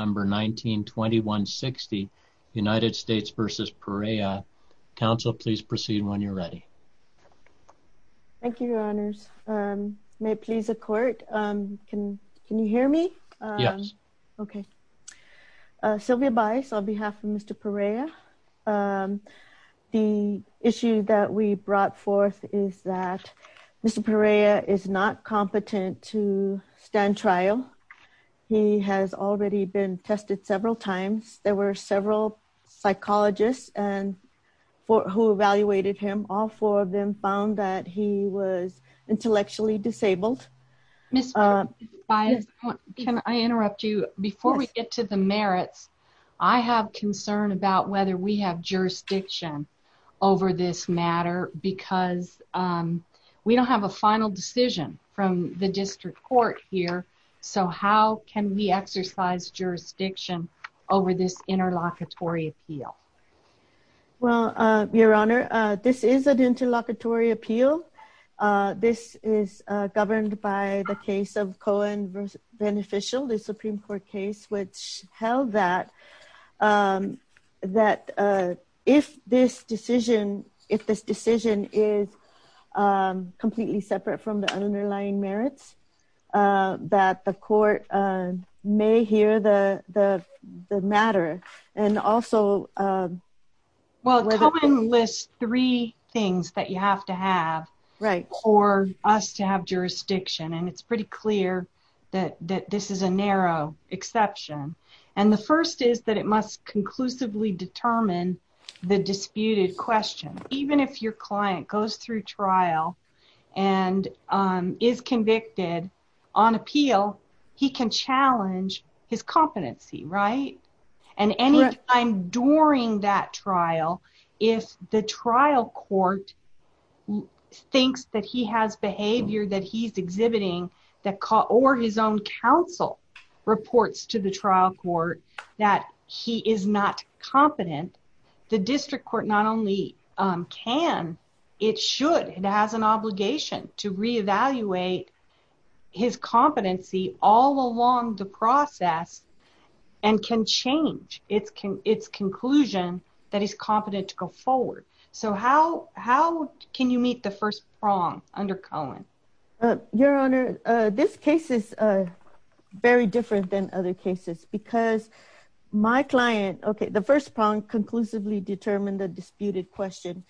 November 19, 2160 United States v. Perea. Council, please proceed when you're ready. Thank you, Your Honors. May it please the Court. Can you hear me? Yes. Okay. Sylvia Bias on behalf of Mr. Perea. The issue that we brought forth is that Mr. Perea is not been tested several times. There were several psychologists who evaluated him. All four of them found that he was intellectually disabled. Ms. Bias, can I interrupt you? Before we get to the merits, I have concern about whether we have jurisdiction over this matter because we don't have a final decision from the District Court here. So how can we exercise jurisdiction over this interlocutory appeal? Well, Your Honor, this is an interlocutory appeal. This is governed by the case of Cohen v. Beneficial, the Supreme Court case, which held that if this decision is completely separate from the underlying merits, that the Court may hear the matter and also... Well, Cohen lists three things that you have to have for us to have jurisdiction, and it's pretty clear that this is a narrow exception. And the first is that it must conclusively determine the disputed question. Even if your client goes through trial and is convicted on appeal, he can challenge his competency, right? And any time during that trial, if the trial court thinks that he has behavior that he's exhibiting or his own counsel reports to the trial court that he is not competent, the District Court not only can, it should, it has an obligation to reevaluate his competency all along the process and can change its conclusion that he's competent to go forward. So how can you meet the first prong under Cohen? Your Honor, this case is very different than other cases because my client... Okay, the first prong conclusively determined the disputed question.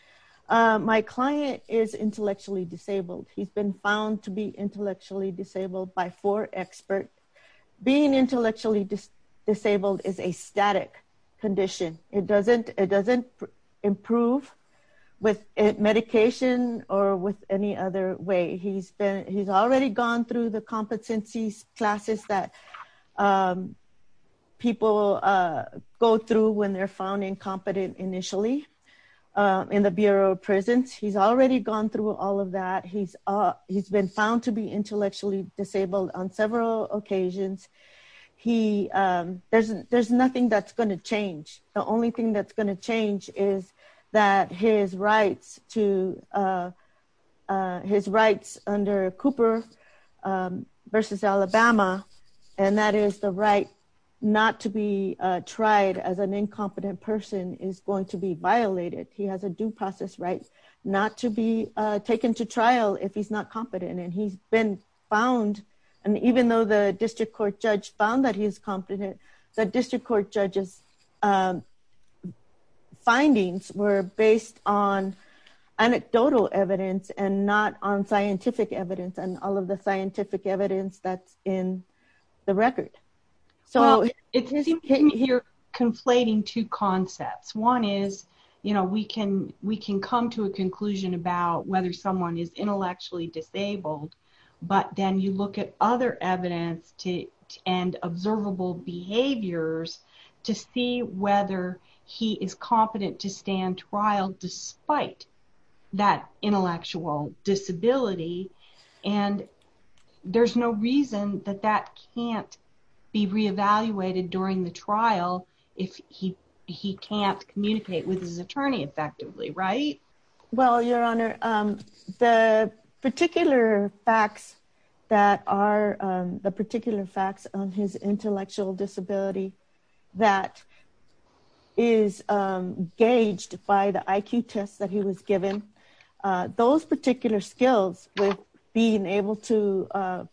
My client is intellectually disabled. He's been found to be intellectually disabled by four experts. Being intellectually disabled is a static condition. It doesn't improve with medication or with any other way. He's already gone through the competencies classes that people go through when they're found incompetent initially in the Bureau of Prisons. He's already gone through all of that. He's been found to be intellectually disabled on several occasions. There's nothing that's under Cooper versus Alabama, and that is the right not to be tried as an incompetent person is going to be violated. He has a due process right not to be taken to trial if he's not competent. And he's been found, and even though the District Court judge found that he's competent, the District Court judge's findings were based on anecdotal evidence and not on scientific evidence and all of the scientific evidence that's in the record. So it seems you're conflating two concepts. One is, you know, we can come to a conclusion about whether someone is intellectually disabled, but then you look at other evidence and observable behaviors to see whether he is competent to stand trial despite that intellectual disability. And there's no reason that that can't be re-evaluated during the trial if he can't communicate with his attorney effectively, right? Well, Your Honor, the particular facts that are the particular facts on his intellectual disability that is gauged by the IQ tests that he was given, those particular skills with being able to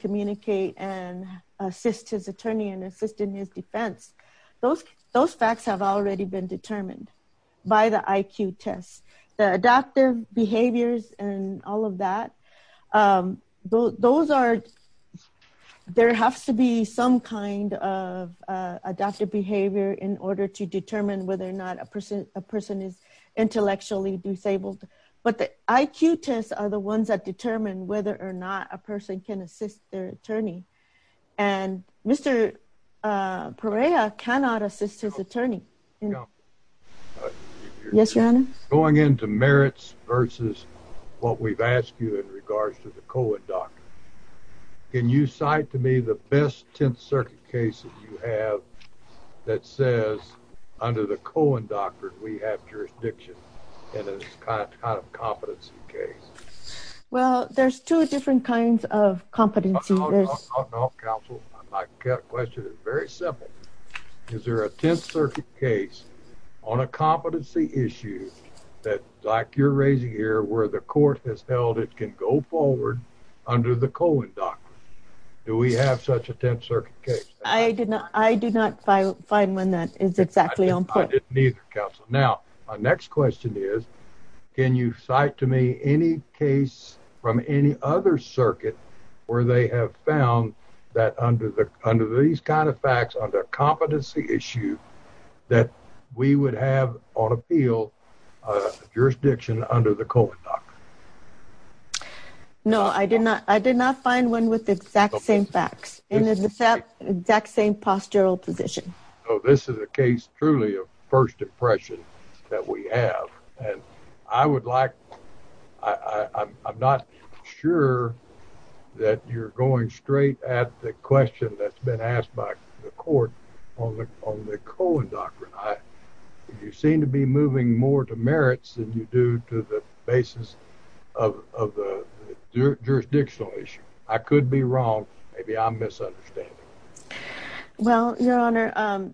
communicate and assist his attorney and assist in his defense, those facts have already been determined by the IQ tests. The adaptive behaviors and all of that, those are, there has to be some kind of adaptive behavior in order to determine whether or not a person is intellectually disabled. But the IQ tests are the ones that determine whether or not a person can assist their attorney. And Mr. Perea cannot assist his attorney. Yes, Your Honor? Going into merits versus what we've asked you in regards to the Cohen Doctrine, can you cite to me the best 10th Circuit case that you have that says, under the Cohen Doctrine, we have jurisdiction in this kind of competency case? Well, there's two different kinds of competency. Counsel, my question is very simple. Is there a 10th Circuit case on a competency issue that, like you're raising here, where the court has held it can go forward under the Cohen Doctrine? Do we have such a 10th Circuit case? I do not find one that is circuit where they have found that under these kind of facts, under competency issue, that we would have on appeal jurisdiction under the Cohen Doctrine. No, I did not. I did not find one with the exact same facts and the exact same postural position. Oh, this is a case truly of first impression that we have. And I would like, I'm not sure that you're going straight at the question that's been asked by the court on the on the Cohen Doctrine. You seem to be moving more to merits than you do to the basis of the jurisdictional issue. I could be wrong. Maybe I'm misunderstanding. Well, Your Honor,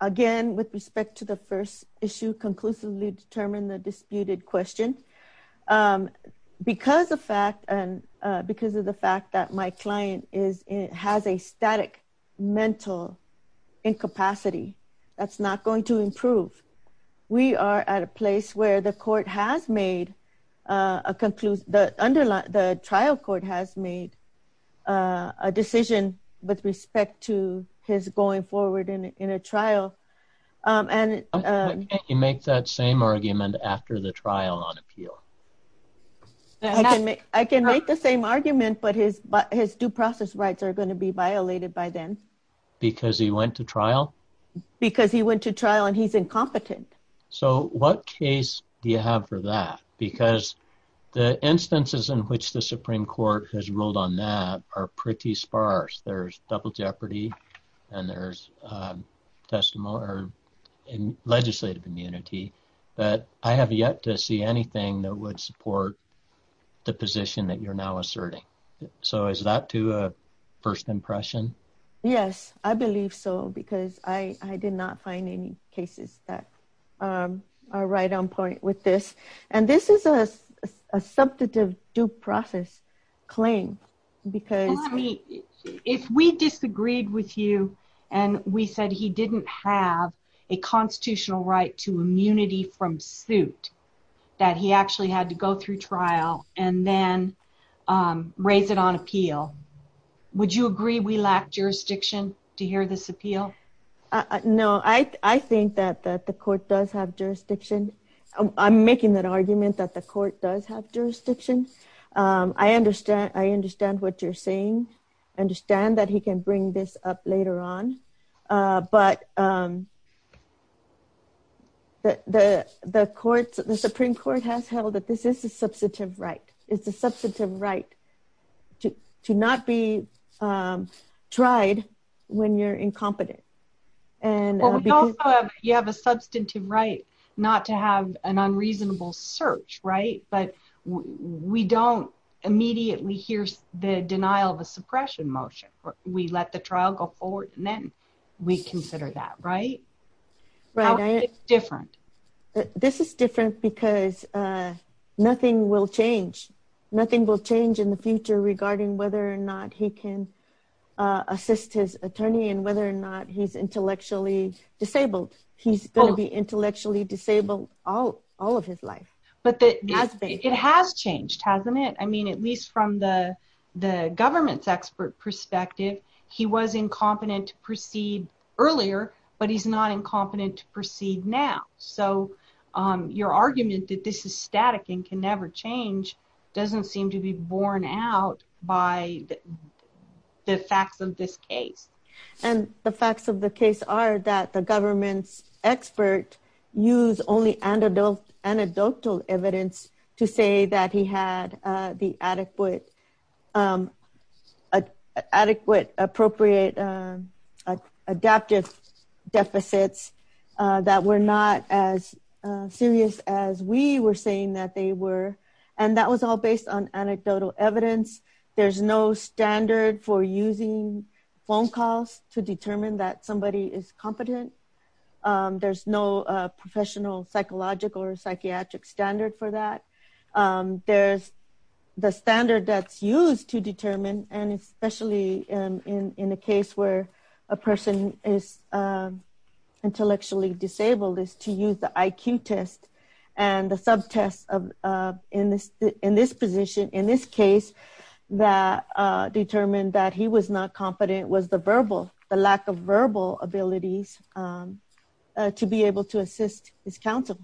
again, with respect to the first issue, conclusively determine the disputed question because the fact and because of the fact that my client is it has a static mental incapacity, that's not going to improve. We are at a place where the court has made a conclusion that under the trial court has made a decision with respect to his going forward in a trial. And you make that same argument after the trial on appeal. I can make the same argument, but his due process rights are going to be violated by them. Because he went to trial? Because he went to trial and he's incompetent. So what case do you have for that? Because the instances in which the Supreme Court has ruled on that are pretty sparse. There's double jeopardy and there's legislative immunity, but I have yet to see anything that would support the position that you're now asserting. So is that to a first impression? Yes, I believe so, because I did not find any cases that are right on point with this. And this is a substantive due process claim. If we disagreed with you and we said he didn't have a constitutional right to immunity from suit, that he actually had to go through trial and then raise it on appeal, would you agree we lack jurisdiction to hear this appeal? No, I think that the court does have jurisdiction. I'm making that argument that the court does have jurisdiction. I understand what you're saying. I understand that he can bring this up later on. But the Supreme Court has held that this is a substantive right. It's a substantive right to not be tried when you're incompetent. You have a substantive right not to have an unreasonable search, right? But we don't immediately hear the denial of a suppression motion. We let the trial go forward and then we consider that, right? How is this different? This is different because nothing will change. Nothing will change in the future regarding whether or not he can assist his attorney and whether or not he's intellectually disabled. He's going to be intellectually disabled all of his life. It has changed, hasn't it? I mean, at least from the government's expert perspective, he was incompetent to proceed earlier, but he's not incompetent to static and can never change, doesn't seem to be borne out by the facts of this case. And the facts of the case are that the government's expert used only anecdotal evidence to say that he had the adequate appropriate adaptive deficits that were not as serious as we were saying that they were. And that was all based on anecdotal evidence. There's no standard for using phone calls to determine that somebody is competent. There's no professional psychological or psychiatric standard for that. There's the standard that's used to determine, and especially in a case where a person is incompetent, and the subtest in this position, in this case, that determined that he was not competent was the lack of verbal abilities to be able to assist his counsel.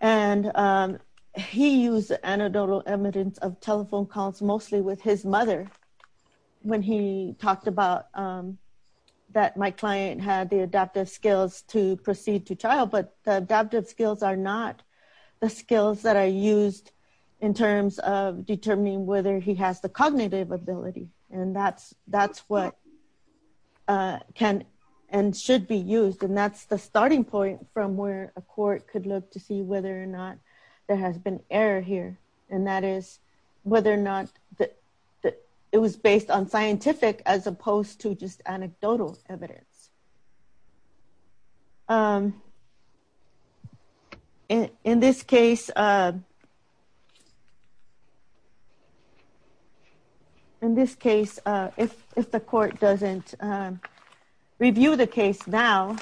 And he used anecdotal evidence of telephone calls mostly with his mother when he talked about that my client had the adaptive skills to proceed to trial, but the adaptive skills are not the skills that are used in terms of determining whether he has the cognitive ability. And that's what can and should be used. And that's the starting point from where a court could look to see whether or not there has been error here. And that is whether or not that it was based on scientific as opposed to just based on anecdotal evidence. So, in this case, if the court doesn't review the case now,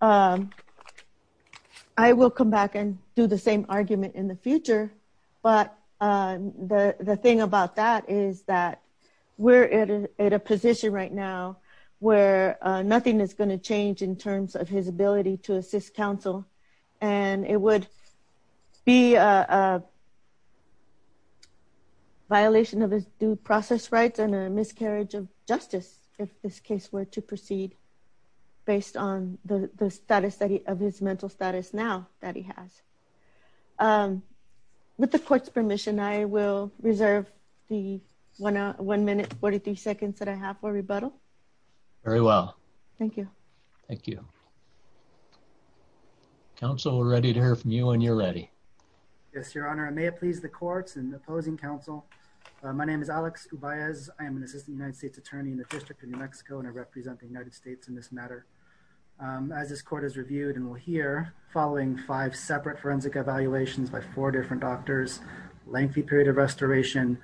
I will come back and do the same argument in the future. But the thing about that is that we're at a position right now where nothing is going to change in terms of his ability to assist counsel. And it would be a violation of his due process rights and a miscarriage of justice if this case were to proceed based on the status of his mental status now that he has. With the court's seconds that I have for rebuttal. Very well. Thank you. Thank you. Council, we're ready to hear from you when you're ready. Yes, Your Honor. I may please the courts and opposing counsel. My name is Alex Ubaez. I am an assistant United States attorney in the District of New Mexico, and I represent the United States in this matter. As this court is reviewed and we'll hear following five separate forensic evaluations by four different doctors, lengthy period of restoration,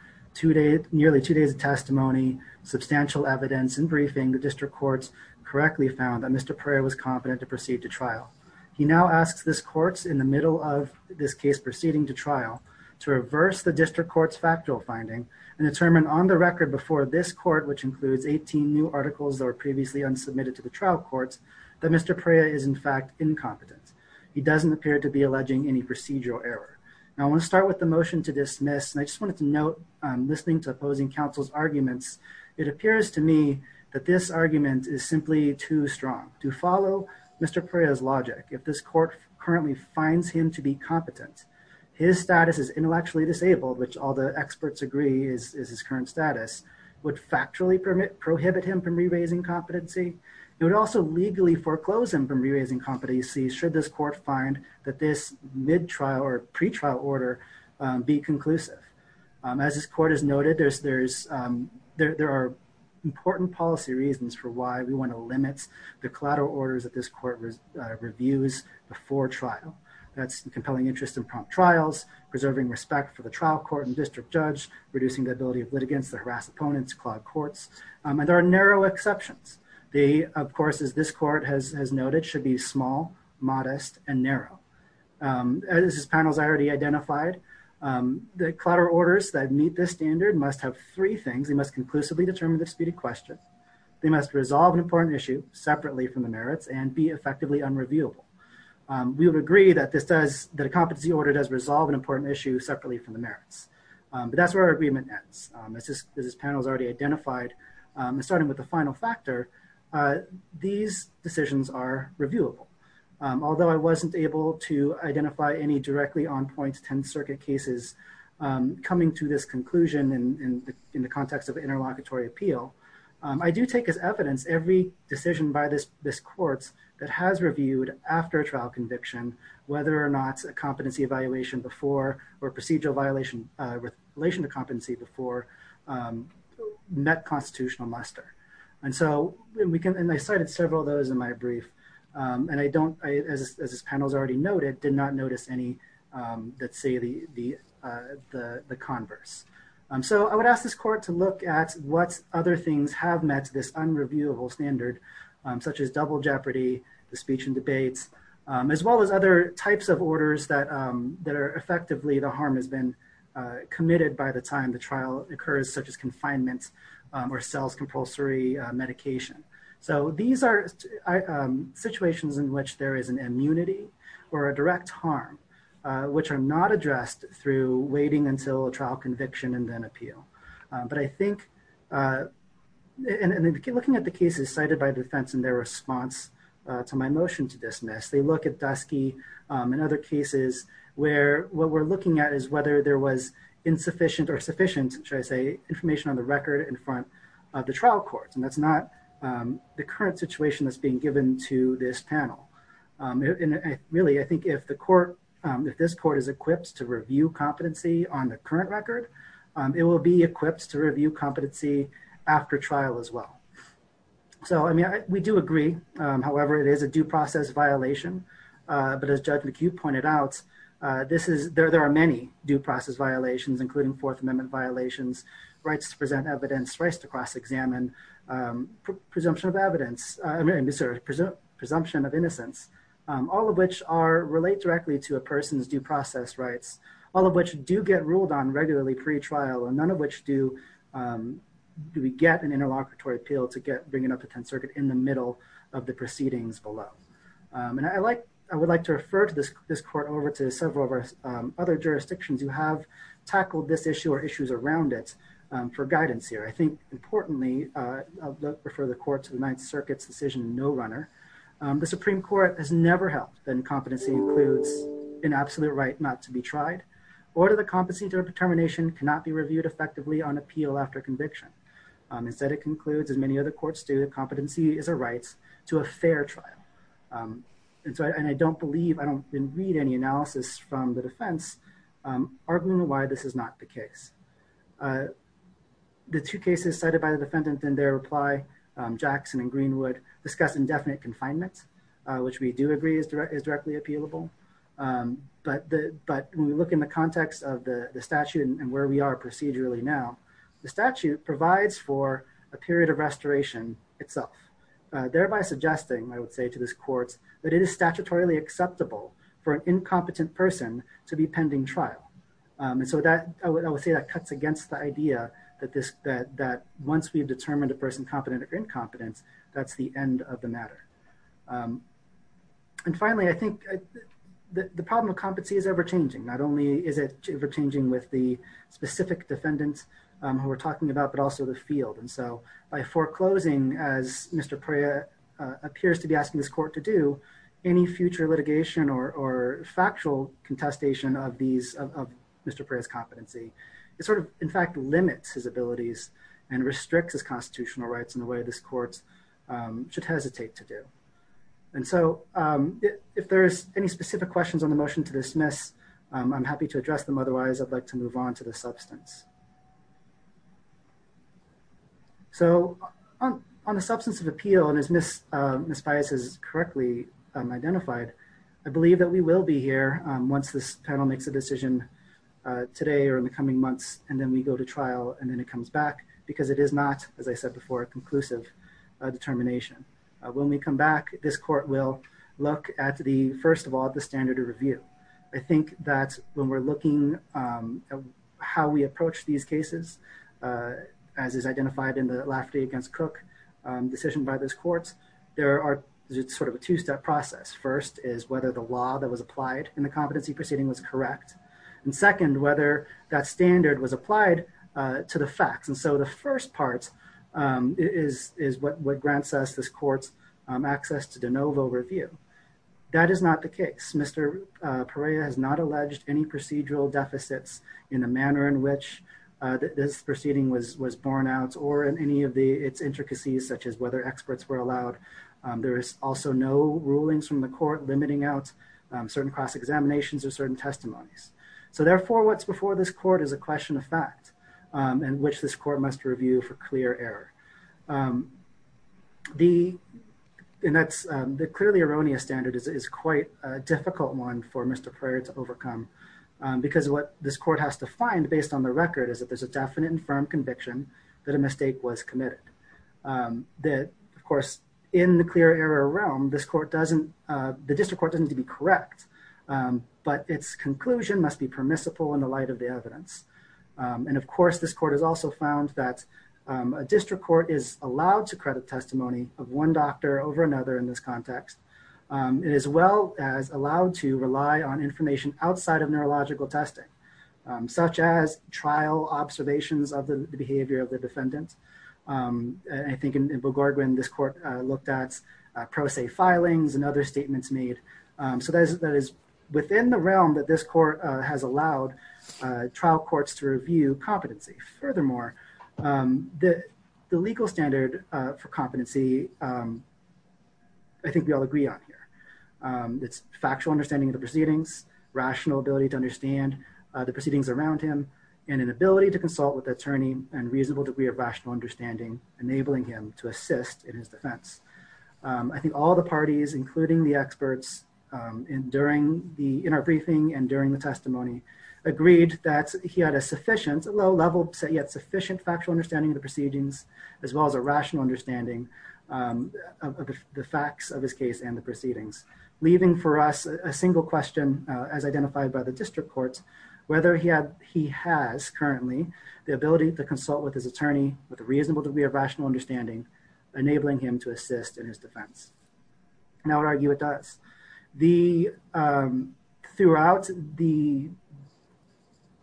nearly two days of testimony, substantial evidence and briefing, the district courts correctly found that Mr. Perea was competent to proceed to trial. He now asks this court in the middle of this case proceeding to trial to reverse the district court's factual finding and determine on the record before this court, which includes 18 new articles that were previously unsubmitted to the trial courts, that Mr. Perea is in fact incompetent. He doesn't appear to be alleging any procedural error. Now I want to start with the motion to dismiss, and I just wanted to note, listening to opposing counsel's arguments, it appears to me that this argument is simply too strong to follow Mr. Perea's logic. If this court currently finds him to be competent, his status is intellectually disabled, which all the experts agree is his current status, would factually prohibit him from re-raising competency. It would also legally foreclose him from re-raising competency should this court find that this mid-trial or pre-trial order be conclusive. As this court has noted, there are important policy reasons for why we want to limit the collateral orders that this court reviews before trial. That's compelling interest in prompt trials, preserving respect for the trial court and district judge, reducing the ability of litigants to harass opponents, clog courts, and there are narrow exceptions. They, of course, as this court has noted, should be small, modest, and narrow. As this panel has already identified, the collateral orders that meet this standard must have three things. They must conclusively determine disputed questions. They must resolve an important issue separately from the merits and be effectively unreviewable. We would agree that this does, that a competency order does resolve an important issue separately from the merits, but that's where our agreement ends. As this panel has already identified, starting with the final factor, these decisions are reviewable. Although I wasn't able to identify any directly on point Tenth Circuit cases coming to this conclusion in the context of interlocutory appeal, I do take as evidence every decision by this court that has reviewed after a trial conviction, whether or not a competency evaluation before or procedural violation with relation to competency before, met constitutional muster. And so we can, and I cited several of those in my brief, and I don't, as this panel's already noted, did not notice any that say the converse. So I would ask this court to look at what other things have met this unreviewable standard, such as double jeopardy, the speech and debates, as well as other types of orders that are effectively, the harm has been committed by the time the trial occurs, such as confinement or sales compulsory medication. So these are situations in which there is an immunity or a direct harm, which are not addressed through waiting until a trial conviction and then appeal. But I think, and looking at the cases cited by defense in their response to my motion to dismiss, they look at Dusky and other cases where what we're looking at is whether there was insufficient or sufficient, should I say, information on the record in front of the trial courts. And that's not the current situation that's being given to this panel. And really, I think if the court, if this court is equipped to review competency on the current record, it will be equipped to review competency after trial as well. So, I mean, we do agree. However, it is a due process violation. But as Judge McHugh pointed out, there are many due process violations, including Fourth Amendment violations, rights to present evidence, rights to cross-examine, presumption of evidence, presumption of innocence, all of which relate directly to a person's due process rights, all of which do get an interlocutory appeal to bring it up to Tenth Circuit in the middle of the proceedings below. And I would like to refer this court over to several of our other jurisdictions who have tackled this issue or issues around it for guidance here. I think, importantly, I'll refer the court to the Ninth Circuit's decision no-runner. The Supreme Court has never held that incompetency includes an absolute right not to be tried, or that the competency to a determination cannot be reviewed effectively on appeal after conviction. Instead, it concludes, as many other courts do, that competency is a right to a fair trial. And so, and I don't believe, I don't read any analysis from the defense arguing why this is not the case. The two cases cited by the defendant in their reply, Jackson and Greenwood, discuss indefinite confinement, which we do agree is directly appealable. But when we look in the context of the statute and where we are procedurally now, the statute provides for a period of restoration itself, thereby suggesting, I would say to this court, that it is statutorily acceptable for an incompetent person to be pending trial. And so that, I would say that cuts against the idea that once we've determined a person competent or incompetent, that's the end of the matter. And finally, I think the problem of competency is ever-changing. Not only is it ever-changing with the specific defendants who we're talking about, but also the field. And so by foreclosing, as Mr. Preah appears to be asking this court to do, any future litigation or factual contestation of these, of Mr. Preah's competency, it sort of, in fact, limits his abilities and restricts his constitutional rights in a way this court should hesitate to do. And so if there's any specific questions on the motion to dismiss, I'm happy to address them. Otherwise, I'd like to move on to the substance. So on the substance of appeal, and as Ms. Pias has correctly identified, I believe that we will be here once this panel makes a decision today or in the coming months, and then we go to trial, and then it comes back, because it is not, as I said before, a conclusive determination. When we come back, this court will look at the, first of all, the standard of review. I think that when we're looking at how we approach these cases, as is identified in the Lafferty v. Cook decision by this court, there are sort of a two-step process. First is whether the law that was applied in the competency proceeding was correct. And second, whether that standard was applied to the facts. And so the first part is what grants us, this court's access to de novo review. That is not the case. Mr. Preah has not alleged any procedural deficits in the manner in which this proceeding was borne out, or in any of its intricacies, such as whether experts were allowed. There is also no rulings from the court limiting out certain cross-examinations or certain testimonies. So therefore, what's before this court is a question of fact, and which this court must review for clear error. The clearly erroneous standard is quite a difficult one for Mr. Preah to overcome, because what this court has to find, based on the record, is that there's a definite and firm conviction that a mistake was committed. That, of course, in the clear error realm, the district court doesn't need to be correct, but its conclusion must be permissible in the light of the evidence. And of course, this court has also found that a district court is allowed to credit testimony of one doctor over another in this context. It is well as allowed to rely on information outside of neurological testing, such as trial observations of the behavior of the defendant. I think in Bogorgwin, this court looked at pro se filings and other statements made. So that is within the realm that this court has allowed trial courts to review competency. Furthermore, the legal standard for competency, I think we all agree on here. It's factual understanding of the proceedings, rational ability to understand the proceedings around him, and an ability to consult with attorney and reasonable degree of rational understanding, enabling him to assist in his defense. I think all the parties, including the experts in our briefing and during the testimony, agreed that he had a low-level, yet sufficient factual understanding of the proceedings, as well as a rational understanding of the facts of his case and the proceedings, leaving for us a single question, as identified by the district courts, whether he has currently the ability to consult with his attorney with a reasonable degree of rational understanding, enabling him to assist in his defense. And I would argue it does. Throughout the,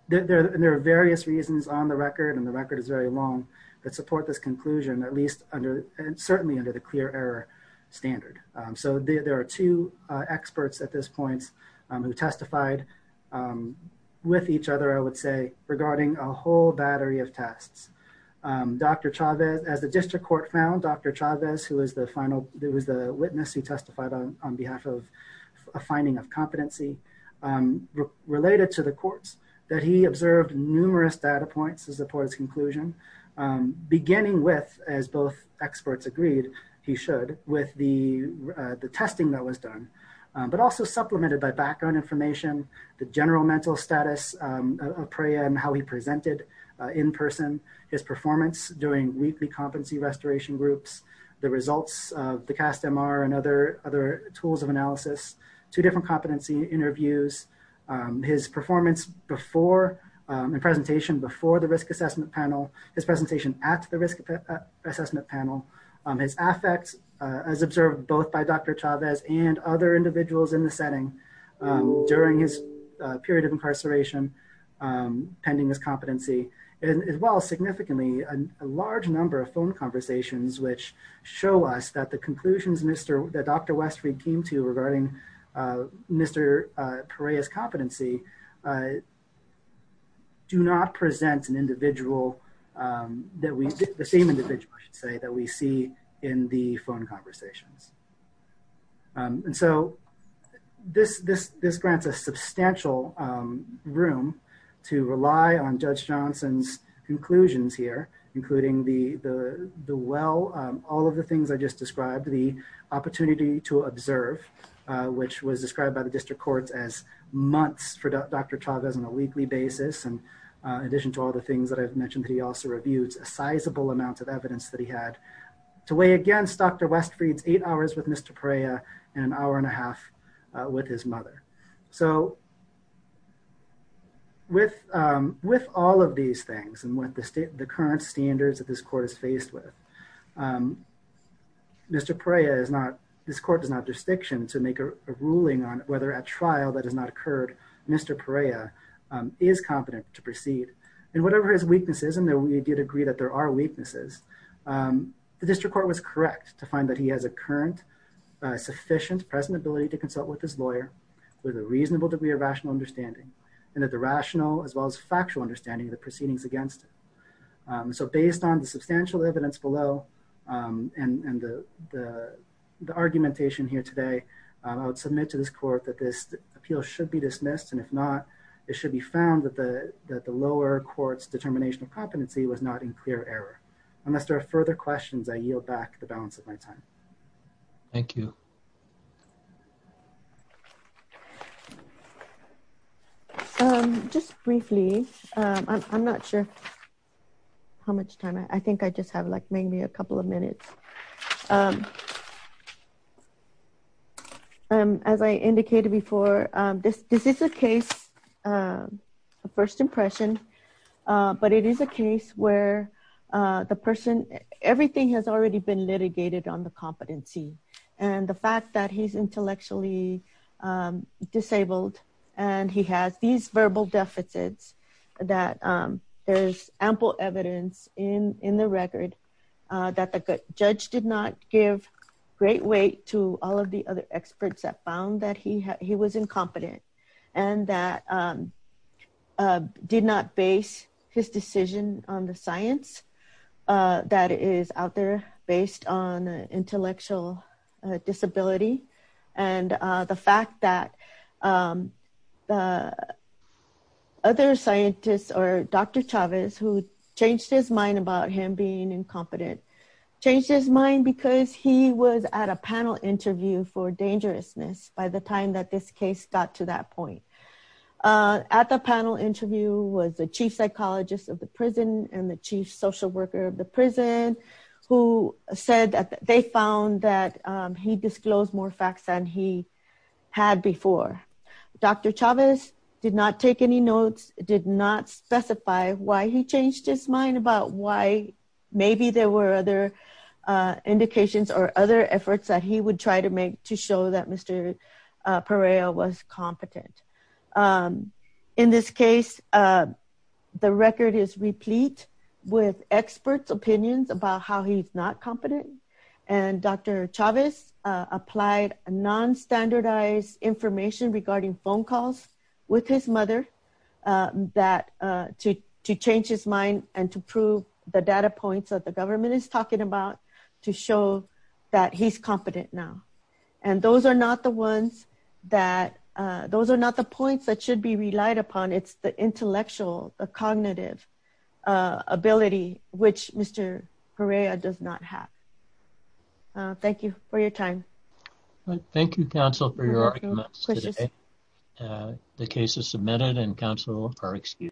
there are various reasons on the record, and the record is very long, that support this conclusion, at least under, certainly under the clear error standard. So there are two experts at this point who testified with each other, I would say, regarding a whole battery of tests. Dr. Chavez, as the district court found, Dr. Chavez, who was the final, who was the witness who testified on behalf of a finding of competency, related to the courts, that he observed numerous data points as a part of his conclusion, beginning with, as both experts agreed he should, with the testing that was done, but also supplemented by background information, the general mental status of Preah and how he presented in person, his performance during weekly competency restoration groups, the results of the CAST-MR and other, other tools of analysis, two different competency interviews, his performance before, the presentation before the risk assessment panel, his presentation at the risk assessment panel, his affect as observed both by Dr. Chavez and other individuals in the setting during his period of incarceration, pending his competency, and as well, significantly a large number of phone conversations which show us that the conclusions Mr., that Dr. Westreed came to regarding Mr. Preah's competency do not present an individual that we, the same individual, I should say, that we see in the phone conversations. And so this, this, this grants a the well, all of the things I just described, the opportunity to observe, which was described by the district courts as months for Dr. Chavez on a weekly basis, and in addition to all the things that I've mentioned that he also reviewed, a sizable amount of evidence that he had to weigh against Dr. Westreed's eight hours with Mr. Preah and an hour and a half with his mother. So with, with all of these things and with the current standards that this court is faced with, Mr. Preah is not, this court does not have jurisdiction to make a ruling on whether at trial that has not occurred, Mr. Preah is competent to proceed. And whatever his weaknesses, and that we did agree that there are weaknesses, the district court was correct to find that he has a current, sufficient present ability to consult with his lawyer with a reasonable degree of rational understanding and that the rational as well as factual understanding of the proceedings against him. So based on the substantial evidence below and the, the, the argumentation here today, I would submit to this court that this appeal should be dismissed. And if not, it should be found that the, that the lower court's determination of competency was not in clear error. Unless there are further questions, I yield back the balance of my time. Thank you. Just briefly, I'm not sure how much time I think I just have like maybe a couple of minutes. As I indicated before, this, this is a case, a first impression, but it is a case where the person, everything has already been litigated on the competency and the fact that he's intellectually disabled and he has these verbal deficits that there's ample evidence in, in the record that the judge did not give great weight to all of the other experts that found that he, he was incompetent and that did not base his decision on the science that is out there based on intellectual disability. And the fact that other scientists or Dr. Chavez, who changed his mind about him being incompetent, changed his mind because he was at a panel interview for this case got to that point. At the panel interview was the chief psychologist of the prison and the chief social worker of the prison who said that they found that he disclosed more facts than he had before. Dr. Chavez did not take any notes, did not specify why he changed his mind about why maybe there were other indications or other efforts that he would try to make to show that Mr. Perea was competent. In this case, the record is replete with experts opinions about how he's not competent and Dr. Chavez applied non-standardized information regarding phone calls with his mother that to, to change his mind and to prove the data points that the government is talking about to show that he's competent now. And those are not the ones that those are not the points that should be relied upon. It's the intellectual, the cognitive ability, which Mr. Perea does not have. Thank you for your time. Thank you counsel for your arguments. The case is submitted and counsel are excused.